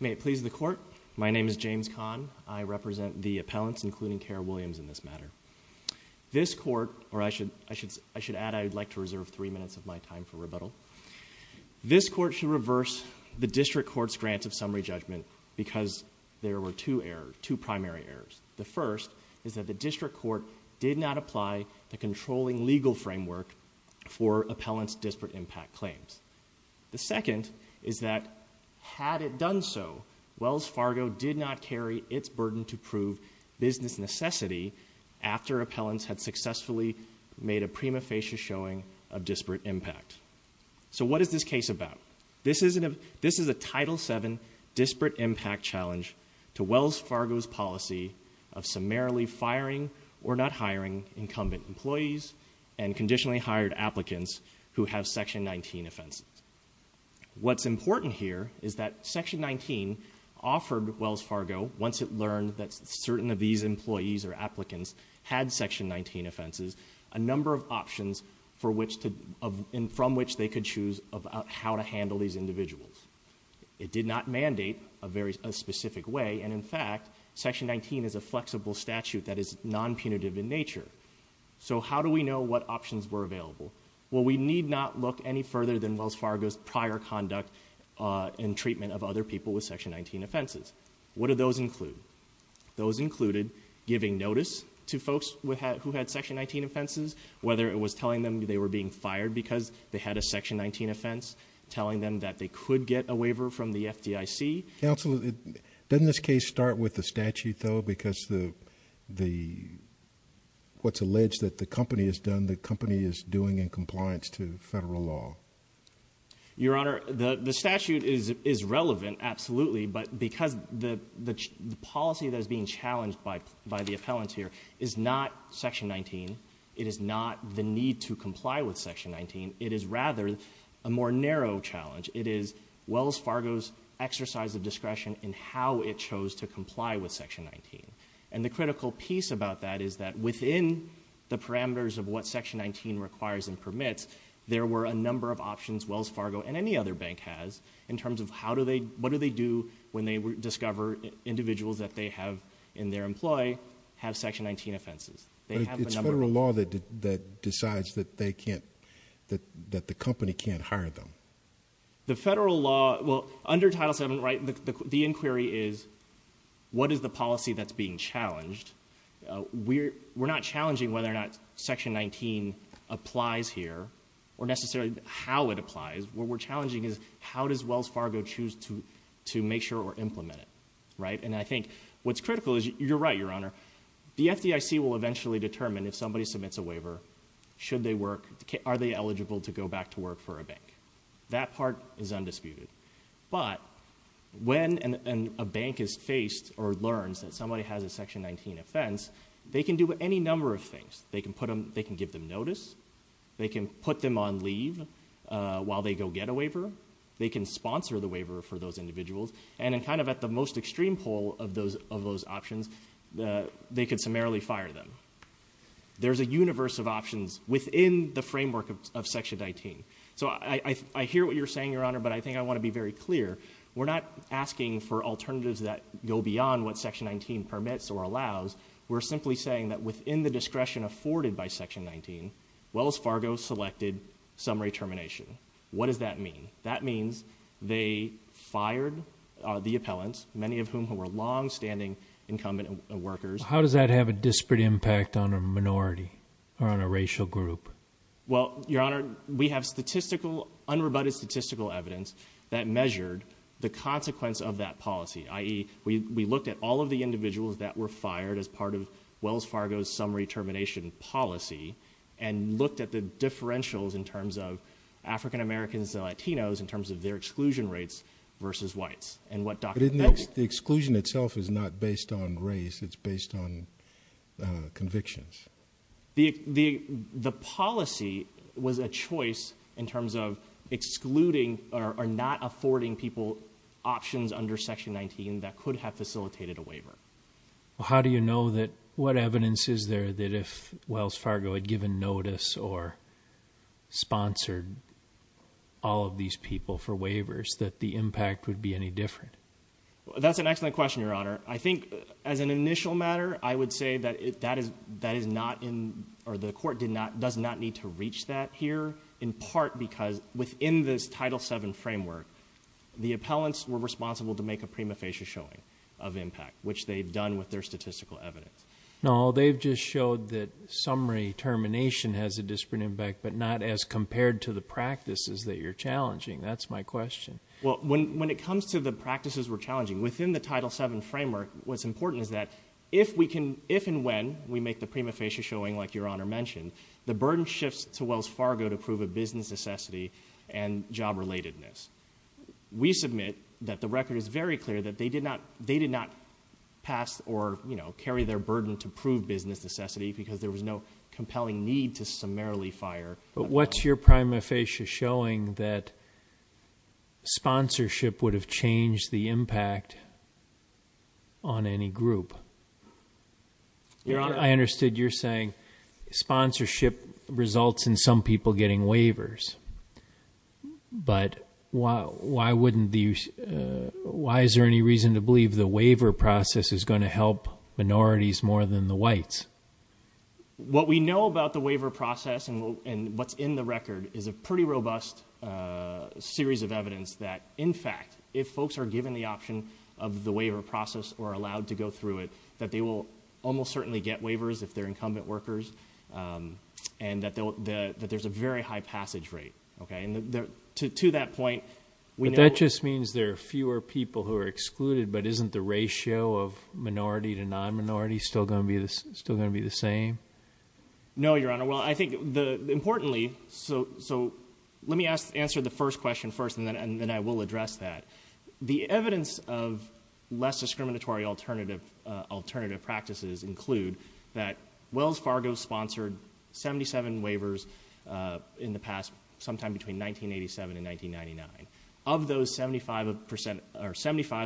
May it please the Court, my name is James Kahn, I represent the appellants including Kara Williams in this matter. This Court, or I should add I would like to reserve three minutes of my time for rebuttal. This Court should reverse the District Court's grant of summary judgment because there were two errors, two primary errors. The first is that the District Court did not apply the controlling legal framework for appellants' disparate impact claims. The second is that had it done so, Wells Fargo did not carry its burden to prove business necessity after appellants had successfully made a prima facie showing of disparate impact. So what is this case about? This is a Title VII disparate impact challenge to Wells Fargo's policy of summarily firing or not hiring incumbent employees and conditionally hired applicants who have Section 19 offenses. What's important here is that Section 19 offered Wells Fargo, once it learned that certain of these employees or applicants had Section 19 offenses, a number of options from which they could choose about how to handle these individuals. It did not mandate a specific way, and in fact, Section 19 is a flexible statute that is non-punitive in nature. So how do we know what options were available? Well, we need not look any further than Wells Fargo's prior conduct in treatment of other people with Section 19 offenses. What do those include? Those included giving notice to folks who had Section 19 offenses, whether it was telling them they were being fired because they had a Section 19 offense, telling them that they could get a waiver from the FDIC. Counsel, doesn't this case start with the statute, though? Because what's alleged that the company has done, the company is doing in compliance to federal law. Your Honor, the statute is relevant, absolutely, but because the policy that is being challenged by the appellant here is not Section 19. It is not the need to comply with Section 19. It is rather a more narrow challenge. It is Wells Fargo's exercise of discretion in how it chose to comply with Section 19. And the critical piece about that is that within the parameters of what Section 19 requires and what options Wells Fargo and any other bank has in terms of what do they do when they discover individuals that they have in their employ have Section 19 offenses. They have a number of- It's federal law that decides that the company can't hire them. The federal law, well, under Title VII, the inquiry is what is the policy that's being challenged? We're not challenging whether or not Section 19 applies here or necessarily how it applies, what we're challenging is how does Wells Fargo choose to make sure or implement it, right? And I think what's critical is, you're right, Your Honor, the FDIC will eventually determine if somebody submits a waiver, should they work, are they eligible to go back to work for a bank? That part is undisputed. But when a bank is faced or learns that somebody has a Section 19 offense, they can do any number of things, they can give them notice, they can put them on leave while they go get a waiver. They can sponsor the waiver for those individuals. And in kind of at the most extreme pole of those options, they could summarily fire them. There's a universe of options within the framework of Section 19. So I hear what you're saying, Your Honor, but I think I want to be very clear. We're not asking for alternatives that go beyond what Section 19 permits or allows. We're simply saying that within the discretion afforded by Section 19, Wells Fargo selected summary termination. What does that mean? That means they fired the appellants, many of whom were long standing incumbent workers. How does that have a disparate impact on a minority or on a racial group? Well, Your Honor, we have unrebutted statistical evidence that measured the consequence of that policy. I.e., we looked at all of the individuals that were fired as part of Wells Fargo's summary termination policy. And looked at the differentials in terms of African Americans and Latinos in terms of their exclusion rates versus whites. And what Dr.- But isn't the exclusion itself is not based on race, it's based on convictions. The policy was a choice in terms of excluding or not affording people options under Section 19 that could have facilitated a waiver. Well, how do you know that, what evidence is there that if Wells Fargo had given notice or sponsored all of these people for waivers that the impact would be any different? That's an excellent question, Your Honor. I think as an initial matter, I would say that the court does not need to reach that here. In part because within this Title VII framework, the appellants were responsible to make a prima facie showing of impact. Which they've done with their statistical evidence. No, they've just showed that summary termination has a disparate impact, but not as compared to the practices that you're challenging, that's my question. Well, when it comes to the practices we're challenging, within the Title VII framework, what's important is that if and when we make the prima facie showing like Your Honor mentioned, the burden shifts to Wells Fargo to prove a business necessity and job relatedness. We submit that the record is very clear that they did not pass or carry their burden to prove business necessity because there was no compelling need to summarily fire- But what's your prima facie showing that sponsorship would have changed the impact on any group? I understood you're saying sponsorship results in some people getting waivers. But why is there any reason to believe the waiver process is going to help minorities more than the whites? What we know about the waiver process and what's in the record is a pretty robust series of evidence that, in fact, if folks are given the option of the waiver process or allowed to go through it, that they will almost certainly get waivers if they're incumbent workers, and that there's a very high passage rate. Okay, and to that point- That just means there are fewer people who are excluded, but isn't the ratio of minority to non-minority still going to be the same? No, Your Honor. Well, I think, importantly, so let me answer the first question first, and then I will address that. The evidence of less discriminatory alternative practices include that Wells Fargo sponsored 77 waivers in the past, sometime between 1987 and 1999. Of those, 75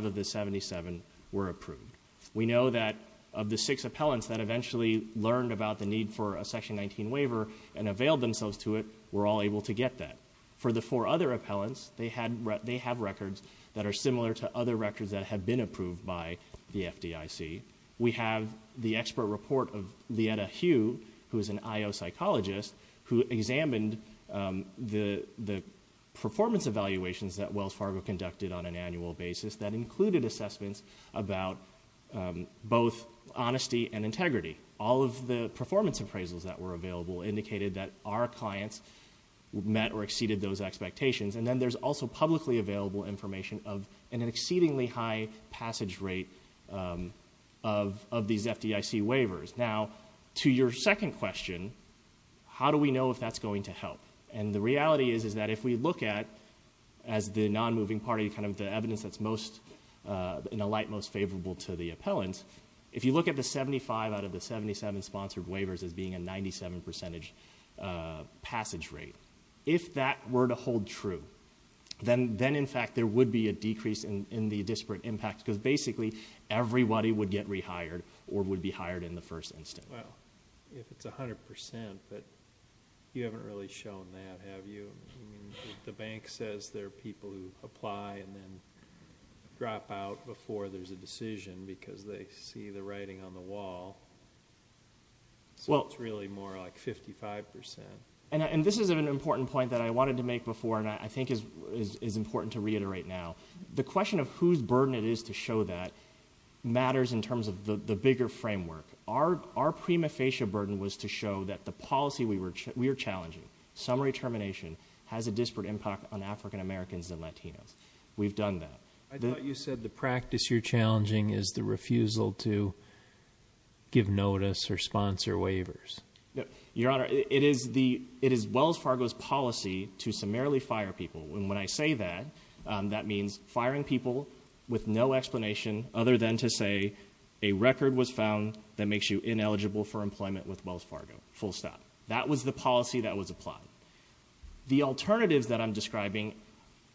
of the 77 were approved. We know that of the six appellants that eventually learned about the need for a Section 19 waiver and availed themselves to it, were all able to get that. For the four other appellants, they have records that are similar to other records that have been approved by the FDIC. We have the expert report of Lieta Hugh, who is an IO psychologist, who examined the performance evaluations that Wells Fargo conducted on an annual basis. That included assessments about both honesty and integrity. All of the performance appraisals that were available indicated that our clients met or exceeded those expectations. And then there's also publicly available information of an exceedingly high passage rate of these FDIC waivers. Now, to your second question, how do we know if that's going to help? And the reality is, is that if we look at, as the non-moving party, kind of the evidence that's most, in a light, most favorable to the appellant. If you look at the 75 out of the 77 sponsored waivers as being a 97% passage rate. If that were to hold true, then in fact there would be a decrease in the disparate impact. Because basically, everybody would get rehired or would be hired in the first instance. Well, if it's 100%, but you haven't really shown that, have you? If the bank says there are people who apply and then drop out before there's a decision, because they see the writing on the wall, so it's really more like 55%. And this is an important point that I wanted to make before, and I think is important to reiterate now. The question of whose burden it is to show that matters in terms of the bigger framework. Our prima facie burden was to show that the policy we were challenging, summary termination, has a disparate impact on African Americans and Latinos. We've done that. I thought you said the practice you're challenging is the refusal to give notice or sponsor waivers. Your Honor, it is Wells Fargo's policy to summarily fire people. And when I say that, that means firing people with no explanation other than to say, a record was found that makes you ineligible for employment with Wells Fargo, full stop. That was the policy that was applied. The alternatives that I'm describing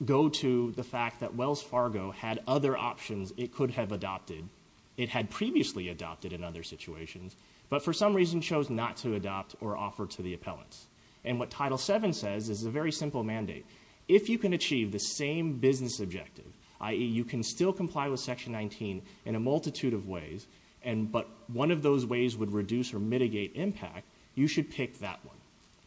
go to the fact that Wells Fargo had other options it could have adopted. It had previously adopted in other situations, but for some reason chose not to adopt or offer to the appellants. And what Title VII says is a very simple mandate. If you can achieve the same business objective, i.e. you can still comply with Section 19 in a multitude of ways, but one of those ways would reduce or mitigate impact, you should pick that one.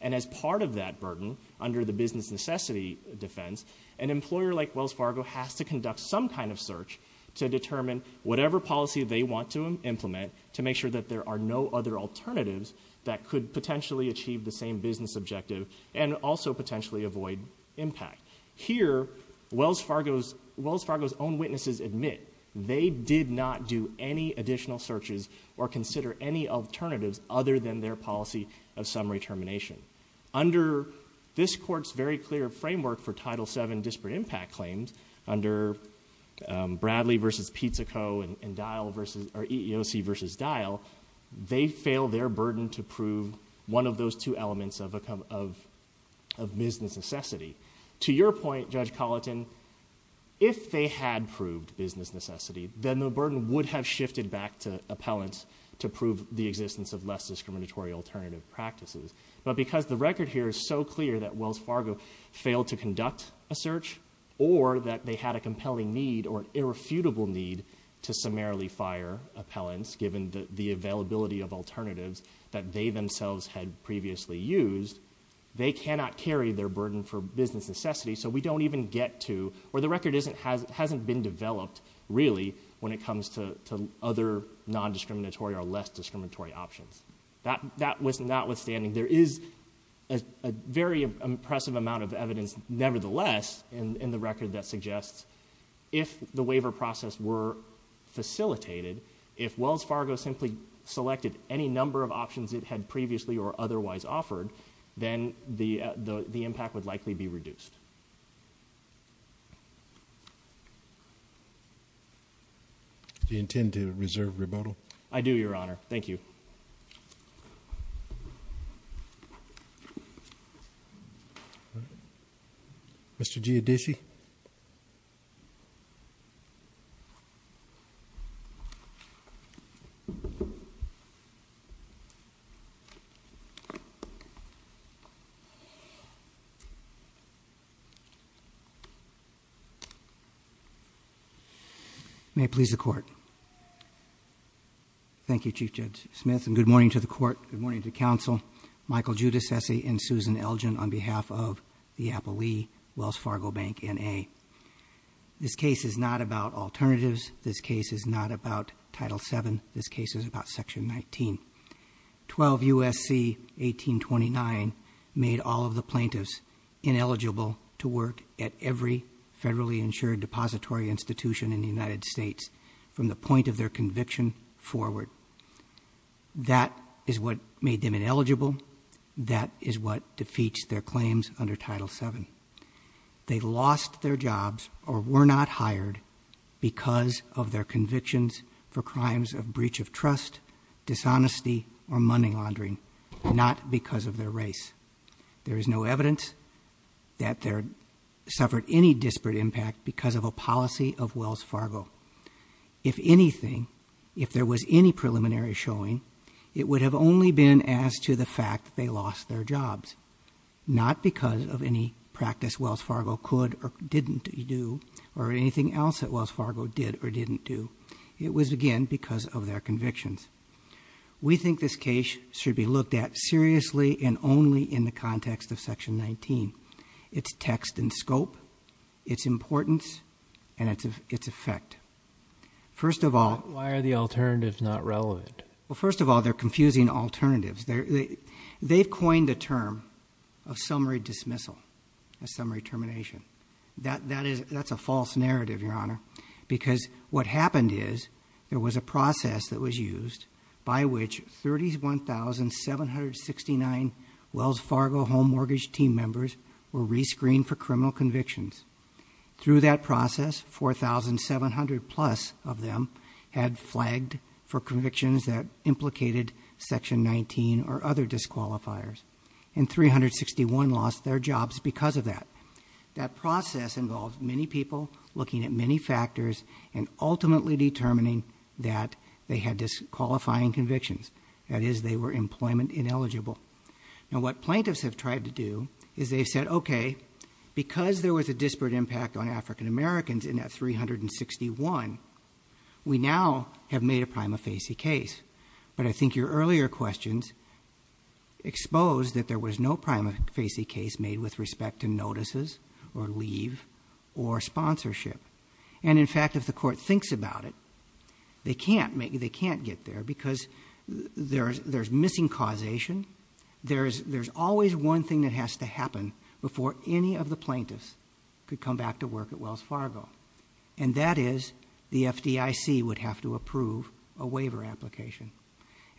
And as part of that burden, under the business necessity defense, an employer like Wells Fargo has to conduct some kind of search to determine whatever policy they want to implement to make sure that there are no other alternatives that could potentially achieve the same business objective and also potentially avoid impact. Here, Wells Fargo's own witnesses admit they did not do any additional searches or consider any alternatives other than their policy of summary termination. Under this court's very clear framework for Title VII disparate impact claims, under Bradley versus Pizzico and EEOC versus Dial, they fail their burden to prove one of those two elements of business necessity. To your point, Judge Colleton, if they had proved business necessity, then the burden would have shifted back to appellants to prove the existence of less discriminatory alternative practices. But because the record here is so clear that Wells Fargo failed to conduct a search or that they had a compelling need or irrefutable need to summarily fire appellants, given the availability of alternatives that they themselves had previously used, they cannot carry their burden for business necessity, so we don't even get to, or the record hasn't been developed, really, when it comes to other non-discriminatory or less discriminatory options. That was notwithstanding, there is a very impressive amount of evidence, nevertheless, in the record that suggests, if the waiver process were facilitated, if Wells Fargo simply selected any number of options it had previously or otherwise offered, then the impact would likely be reduced. Do you intend to reserve rebuttal? I do, Your Honor. Thank you. Mr. Giudici. May it please the court. Thank you, Chief Judge Smith, and good morning to the court, good morning to the council. Michael Giudicesi and Susan Elgin on behalf of the Appellee, Wells Fargo Bank, NA. This case is not about alternatives. This case is not about Title VII. This case is about Section 19. 12 U.S.C. 1829 made all of the plaintiffs ineligible to work at every federally insured depository institution in the United States from the point of their conviction forward. That is what made them ineligible. That is what defeats their claims under Title VII. They lost their jobs or were not hired because of their convictions for crimes of breach of trust, dishonesty, or money laundering, not because of their race. There is no evidence that they suffered any disparate impact because of a policy of Wells Fargo. If anything, if there was any preliminary showing, it would have only been as to the fact that they lost their jobs. Not because of any practice Wells Fargo could or didn't do, or anything else that Wells Fargo did or didn't do. It was, again, because of their convictions. We think this case should be looked at seriously and only in the context of Section 19. It's text and scope, it's importance, and it's effect. First of all- Why are the alternatives not relevant? Well, first of all, they're confusing alternatives. They've coined the term of summary dismissal, a summary termination. That's a false narrative, Your Honor, because what happened is there was a process that was used by which 31,769 Wells Fargo home mortgage team members were rescreened for criminal convictions. Through that process, 4,700 plus of them had flagged for convictions that implicated Section 19 or other disqualifiers. And 361 lost their jobs because of that. That process involved many people looking at many factors and ultimately determining that they had disqualifying convictions. That is, they were employment ineligible. Now what plaintiffs have tried to do is they've said, okay, because there was a disparate impact on African Americans in that 361, we now have made a prima facie case. But I think your earlier questions exposed that there was no prima facie case made with respect to notices or leave or sponsorship. And in fact, if the court thinks about it, they can't get there because there's missing causation. There's always one thing that has to happen before any of the plaintiffs could come back to work at Wells Fargo. And that is, the FDIC would have to approve a waiver application.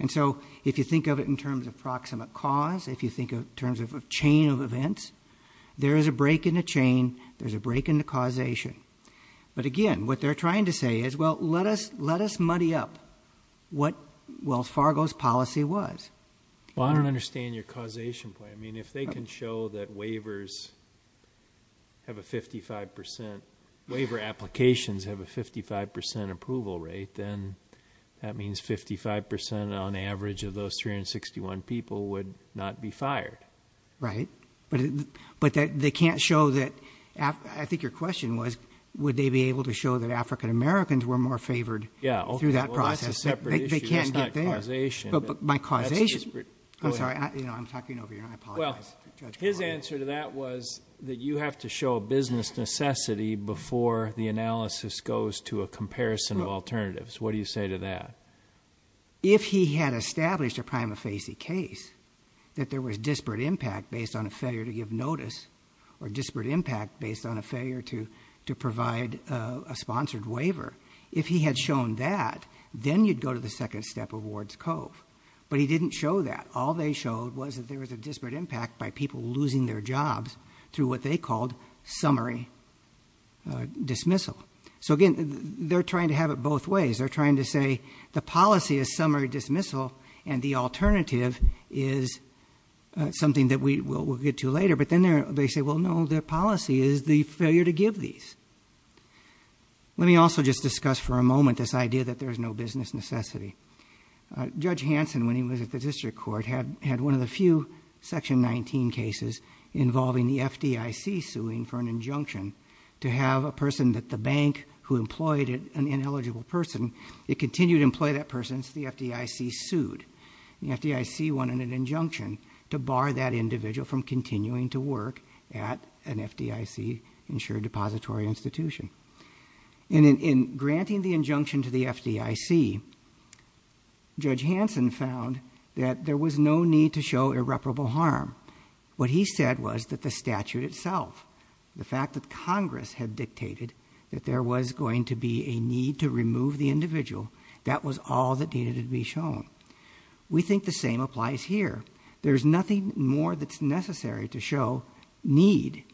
And so, if you think of it in terms of proximate cause, if you think of it in terms of a chain of events, there is a break in the chain, there's a break in the causation. But again, what they're trying to say is, well, let us muddy up what Wells Fargo's policy was. Well, I don't understand your causation point. I mean, if they can show that waivers have a 55%, waiver applications have a 55% approval rate, then that means 55% on average of those 361 people would not be fired. Right, but they can't show that, I think your question was, would they be able to show that African Americans were more favored through that process? They can't get there. But my causation, I'm sorry, I'm talking over you, I apologize. His answer to that was that you have to show a business necessity before the analysis goes to a comparison of alternatives. What do you say to that? If he had established a prima facie case, that there was disparate impact based on a failure to give notice, or disparate impact based on a failure to provide a sponsored waiver. If he had shown that, then you'd go to the second step of Ward's Cove. But he didn't show that. All they showed was that there was a disparate impact by people losing their jobs through what they called summary dismissal. So again, they're trying to have it both ways. They're trying to say, the policy is summary dismissal, and the alternative is something that we'll get to later. But then they say, well, no, the policy is the failure to give these. Let me also just discuss for a moment this idea that there's no business necessity. Judge Hanson, when he was at the district court, had one of the few section 19 cases involving the FDIC suing for an injunction to have a person at the bank who employed an ineligible person, it continued to employ that person, so the FDIC sued. The FDIC wanted an injunction to bar that individual from continuing to work at an FDIC insured depository institution. And in granting the injunction to the FDIC, Judge Hanson found that there was no need to show irreparable harm. What he said was that the statute itself, the fact that Congress had dictated that there was going to be a need to remove the individual, that was all that needed to be shown. We think the same applies here. There's nothing more that's necessary to show need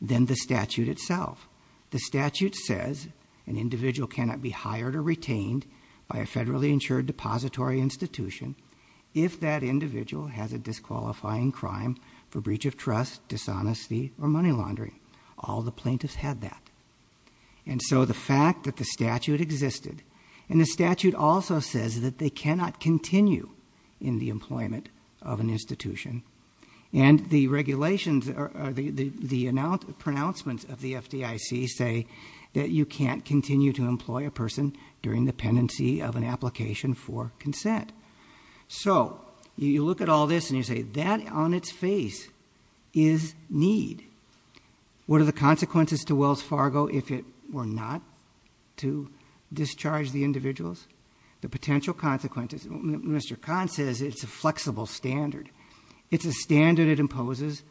than the statute itself. The statute says an individual cannot be hired or retained by a federally insured depository institution if that individual has a disqualifying crime for breach of trust, dishonesty, or money laundering. All the plaintiffs had that. And so the fact that the statute existed, and the statute also says that they cannot continue in the employment of an institution. And the regulations or the pronouncements of the FDIC say that you can't continue to employ a person during the pendency of an application for consent. So, you look at all this and you say, that on its face is need. What are the consequences to Wells Fargo if it were not to discharge the individuals? The potential consequences, Mr. Kahn says it's a flexible standard. It's a standard that imposes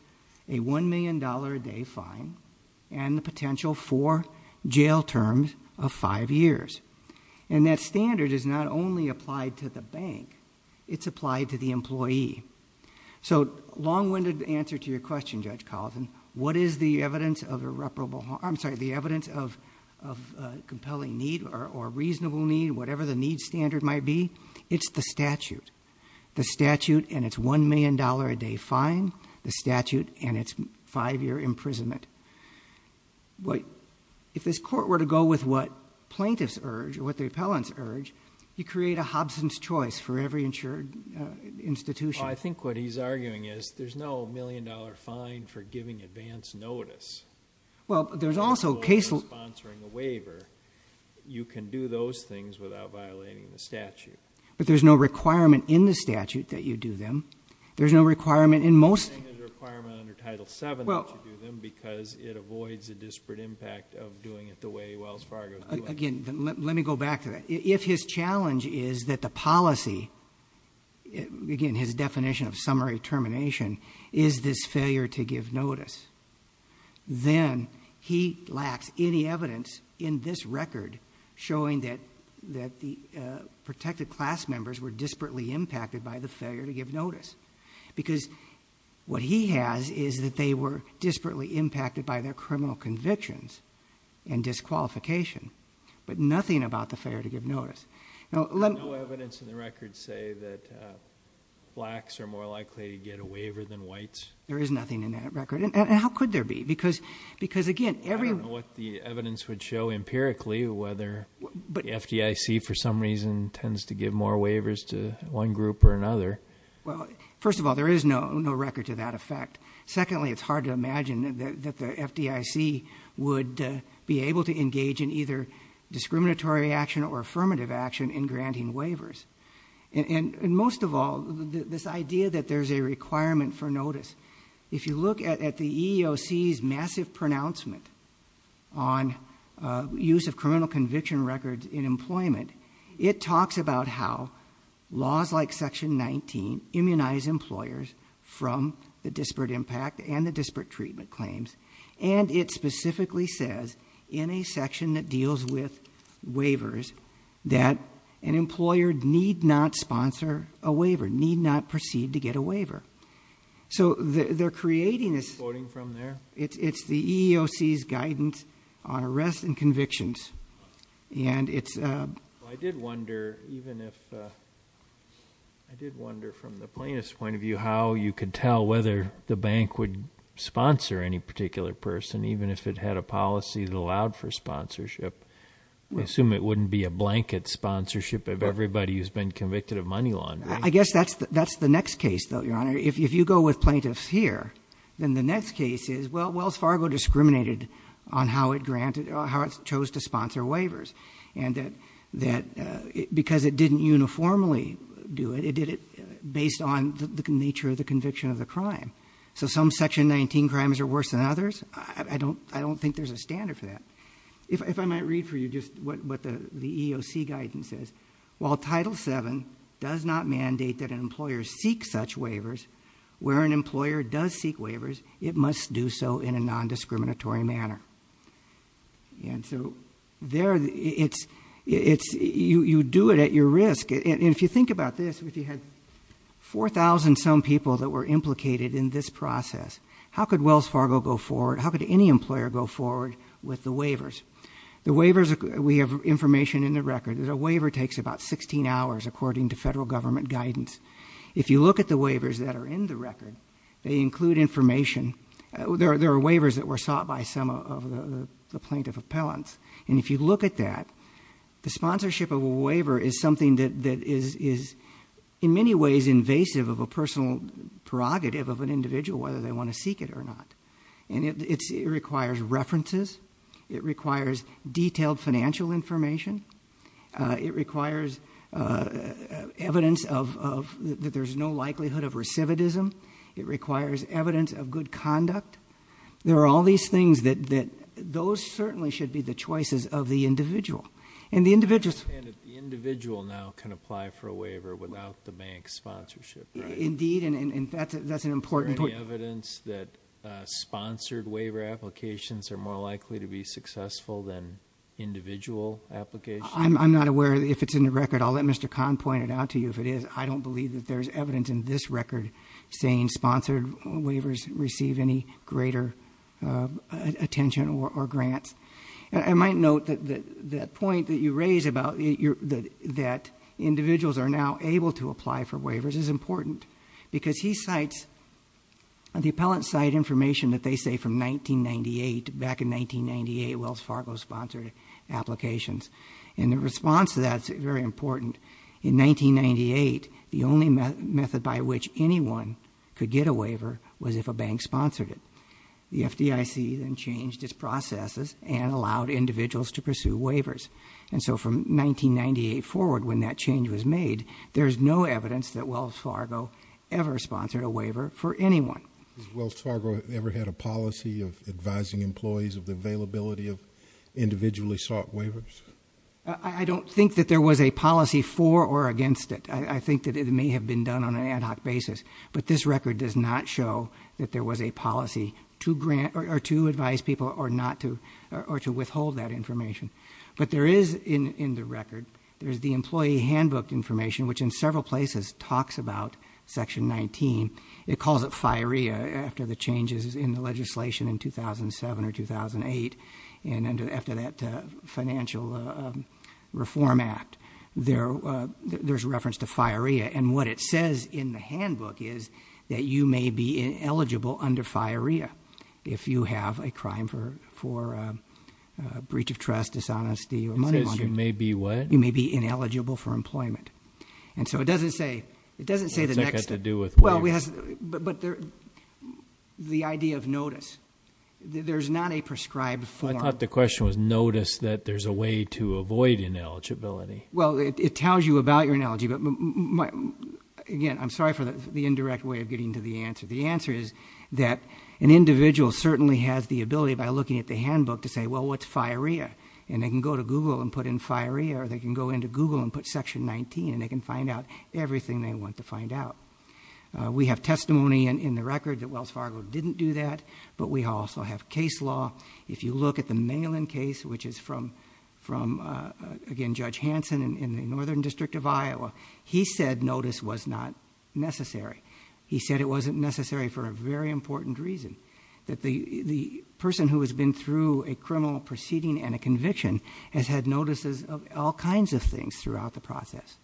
a $1 million a day fine and the potential for jail terms of five years. And that standard is not only applied to the bank, it's applied to the employee. So, long-winded answer to your question, Judge Carlson, what is the evidence of irreparable harm? I'm sorry, the evidence of compelling need or reasonable need, whatever the need standard might be. It's the statute. The statute and its $1 million a day fine, the statute and its five year imprisonment. If this court were to go with what plaintiffs urge or what the appellants urge, you create a Hobson's choice for every insured institution. I think what he's arguing is, there's no $1 million fine for giving advance notice. Well, there's also case- Sponsoring a waiver. You can do those things without violating the statute. But there's no requirement in the statute that you do them. There's no requirement in most- I'm saying there's a requirement under Title VII that you do them because it avoids a disparate impact of doing it the way Wells Fargo's doing it. Again, let me go back to that. If his challenge is that the policy, again, his definition of summary termination, is this failure to give notice. Then he lacks any evidence in this record showing that the protected class members were disparately impacted by the failure to give notice. Because what he has is that they were disparately impacted by their criminal convictions and disqualification. But nothing about the failure to give notice. Now, let me- No evidence in the record say that blacks are more likely to get a waiver than whites? There is nothing in that record. And how could there be? Because again, every- I don't know what the evidence would show empirically, whether the FDIC, for some reason, tends to give more waivers to one group or another. Well, first of all, there is no record to that effect. Secondly, it's hard to imagine that the FDIC would be able to engage in either discriminatory action or affirmative action in granting waivers. And most of all, this idea that there's a requirement for notice. If you look at the EEOC's massive pronouncement on use of criminal conviction records in employment, it talks about how laws like section 19 immunize employers from the disparate impact and the disparate treatment claims. And it specifically says, in a section that deals with waivers, that an employer need not sponsor a waiver, need not proceed to get a waiver. So they're creating this- Voting from there? It's the EEOC's guidance on arrests and convictions. And it's- I did wonder, even if, I did wonder from the plaintiff's point of view, how you could tell whether the bank would sponsor any particular person, even if it had a policy that allowed for sponsorship. We assume it wouldn't be a blanket sponsorship of everybody who's been convicted of money laundering. I guess that's the next case, though, Your Honor. If you go with plaintiffs here, then the next case is, well, the court chose to sponsor waivers, and that because it didn't uniformly do it, it did it based on the nature of the conviction of the crime. So some section 19 crimes are worse than others, I don't think there's a standard for that. If I might read for you just what the EEOC guidance says. While Title VII does not mandate that an employer seek such waivers, where an employer does seek waivers, it must do so in a non-discriminatory manner. And so there, you do it at your risk. And if you think about this, if you had 4,000 some people that were implicated in this process, how could Wells Fargo go forward, how could any employer go forward with the waivers? The waivers, we have information in the record, that a waiver takes about 16 hours according to federal government guidance. If you look at the waivers that are in the record, they include information. There are waivers that were sought by some of the plaintiff appellants. And if you look at that, the sponsorship of a waiver is something that is in many ways invasive of a personal prerogative of an individual, whether they want to seek it or not. And it requires references, it requires detailed financial information, it requires evidence that there's no likelihood of recidivism. It requires evidence of good conduct. There are all these things that those certainly should be the choices of the individual. And the individual- I understand that the individual now can apply for a waiver without the bank's sponsorship, right? Indeed, and that's an important- Is there any evidence that sponsored waiver applications are more likely to be successful than individual applications? I'm not aware if it's in the record. I'll let Mr. Kahn point it out to you. If it is, I don't believe that there's evidence in this record saying sponsored waivers receive any greater attention or grants. I might note that that point that you raise about that individuals are now able to apply for waivers is important because he cites the appellant's site information that they say from 1998, back in 1998, Wells Fargo sponsored applications. And the response to that's very important. In 1998, the only method by which anyone could get a waiver was if a bank sponsored it. The FDIC then changed its processes and allowed individuals to pursue waivers. And so from 1998 forward, when that change was made, there's no evidence that Wells Fargo ever sponsored a waiver for anyone. Has Wells Fargo ever had a policy of advising employees of the availability of individually sought waivers? I don't think that there was a policy for or against it. I think that it may have been done on an ad hoc basis. But this record does not show that there was a policy to advise people or to withhold that information. But there is in the record, there's the employee handbook information, which in several places talks about section 19. It calls it FIREA after the changes in the legislation in 2007 or 2008. And after that financial reform act, there's reference to FIREA. And what it says in the handbook is that you may be ineligible under FIREA if you have a crime for breach of trust, dishonesty, or money laundering. It says you may be what? You may be ineligible for employment. And so it doesn't say the next- It's not got to do with waivers. But the idea of notice, there's not a prescribed form. I thought the question was notice that there's a way to avoid ineligibility. Well, it tells you about your analogy, but again, I'm sorry for the indirect way of getting to the answer. The answer is that an individual certainly has the ability by looking at the handbook to say, well, what's FIREA? And they can go to Google and put in FIREA, or they can go into Google and put section 19, and they can find out everything they want to find out. We have testimony in the record that Wells Fargo didn't do that, but we also have case law. If you look at the Malin case, which is from, again, Judge Hanson in the Northern District of Iowa. He said notice was not necessary. He said it wasn't necessary for a very important reason. That the person who has been through a criminal proceeding and a conviction has had notices of all kinds of things throughout the process.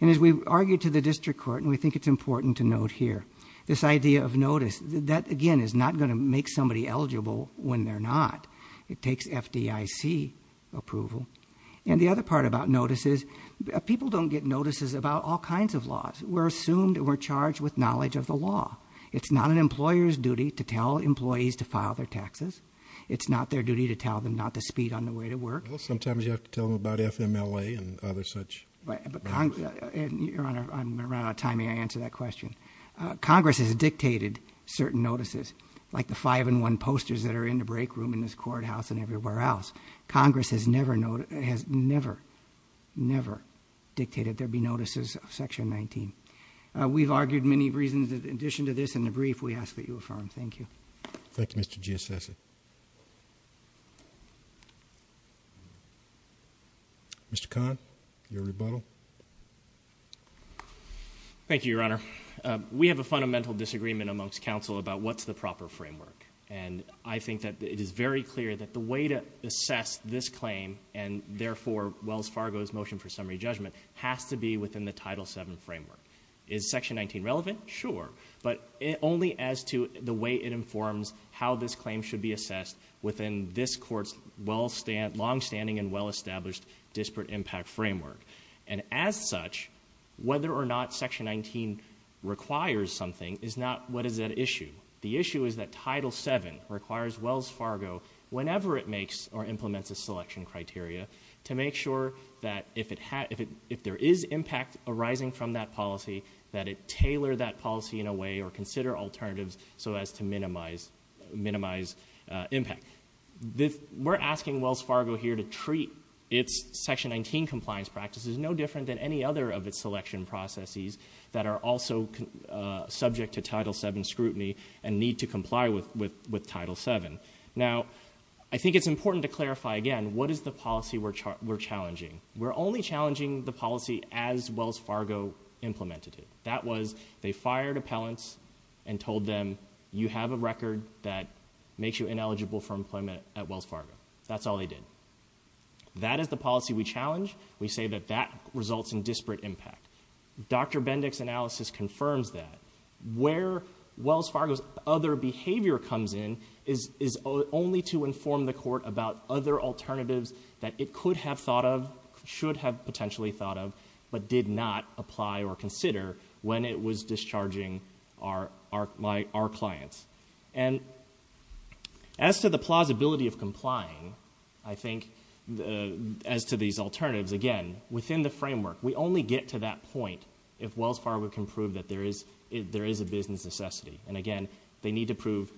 And as we argue to the district court, and we think it's important to note here, this idea of notice. That, again, is not going to make somebody eligible when they're not. It takes FDIC approval. And the other part about notices, people don't get notices about all kinds of laws. We're assumed, we're charged with knowledge of the law. It's not an employer's duty to tell employees to file their taxes. It's not their duty to tell them not to speed on the way to work. Well, sometimes you have to tell them about FMLA and other such. But Congress, and Your Honor, I'm running out of time, may I answer that question? Congress has dictated certain notices, like the five in one posters that are in the break room in this courthouse and everywhere else. Congress has never, never, never dictated there be notices of section 19. We've argued many reasons in addition to this in the brief we ask that you affirm. Thank you. Thank you, Mr. G. Assessor. Mr. Khan, your rebuttal. Thank you, Your Honor. We have a fundamental disagreement amongst counsel about what's the proper framework. And I think that it is very clear that the way to assess this claim, and therefore, Wells Fargo's motion for summary judgment, has to be within the Title VII framework. Is section 19 relevant? Sure, but only as to the way it informs how this claim should be assessed within this court's longstanding and well-established disparate impact framework. And as such, whether or not section 19 requires something is not what is at issue. The issue is that Title VII requires Wells Fargo, whenever it makes or implements a selection criteria, to make sure that if there is impact arising from that policy, that it tailor that policy in a way or consider alternatives so as to minimize impact. We're asking Wells Fargo here to treat its section 19 compliance practices no different than any other of its selection processes that are also subject to Title VII scrutiny, and need to comply with Title VII. Now, I think it's important to clarify again, what is the policy we're challenging? We're only challenging the policy as Wells Fargo implemented it. That was, they fired appellants and told them, you have a record that makes you ineligible for employment at Wells Fargo. That's all they did. That is the policy we challenge. We say that that results in disparate impact. Dr. Bendick's analysis confirms that. Where Wells Fargo's other behavior comes in is only to inform the court about other alternatives that it could have thought of, should have potentially thought of, but did not apply or consider when it was discharging our clients. As to the plausibility of complying, I think, as to these alternatives, again, within the framework, we only get to that point if Wells Fargo can prove that there is a business necessity. Again, they need to prove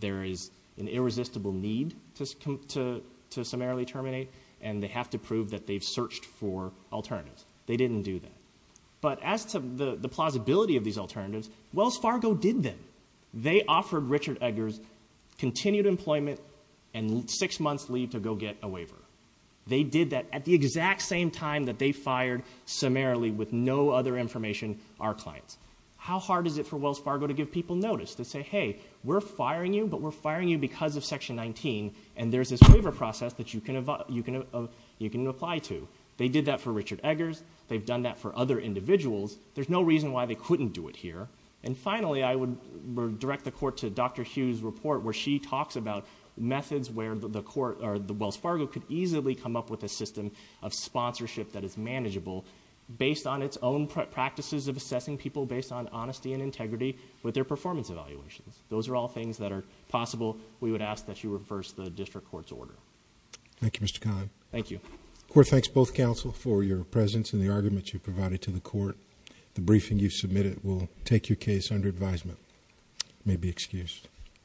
there is an irresistible need to summarily terminate, and they have to prove that they've searched for alternatives. They didn't do that. But as to the plausibility of these alternatives, Wells Fargo did them. They offered Richard Eggers continued employment and six months leave to go get a waiver. They did that at the exact same time that they fired summarily with no other information our clients. How hard is it for Wells Fargo to give people notice? To say, hey, we're firing you, but we're firing you because of Section 19, and there's this waiver process that you can apply to. They did that for Richard Eggers. They've done that for other individuals. There's no reason why they couldn't do it here. And finally, I would direct the court to Dr. Hughes' report, where she talks about methods where the court or the Wells Fargo could easily come up with a system of sponsorship that is manageable based on its own practices of assessing people based on honesty and integrity with their performance evaluations. Those are all things that are possible. We would ask that you reverse the district court's order. Thank you, Mr. Cohn. Thank you. Court thanks both counsel for your presence and the argument you provided to the court. The briefing you submitted will take your case under advisement. You may be excused.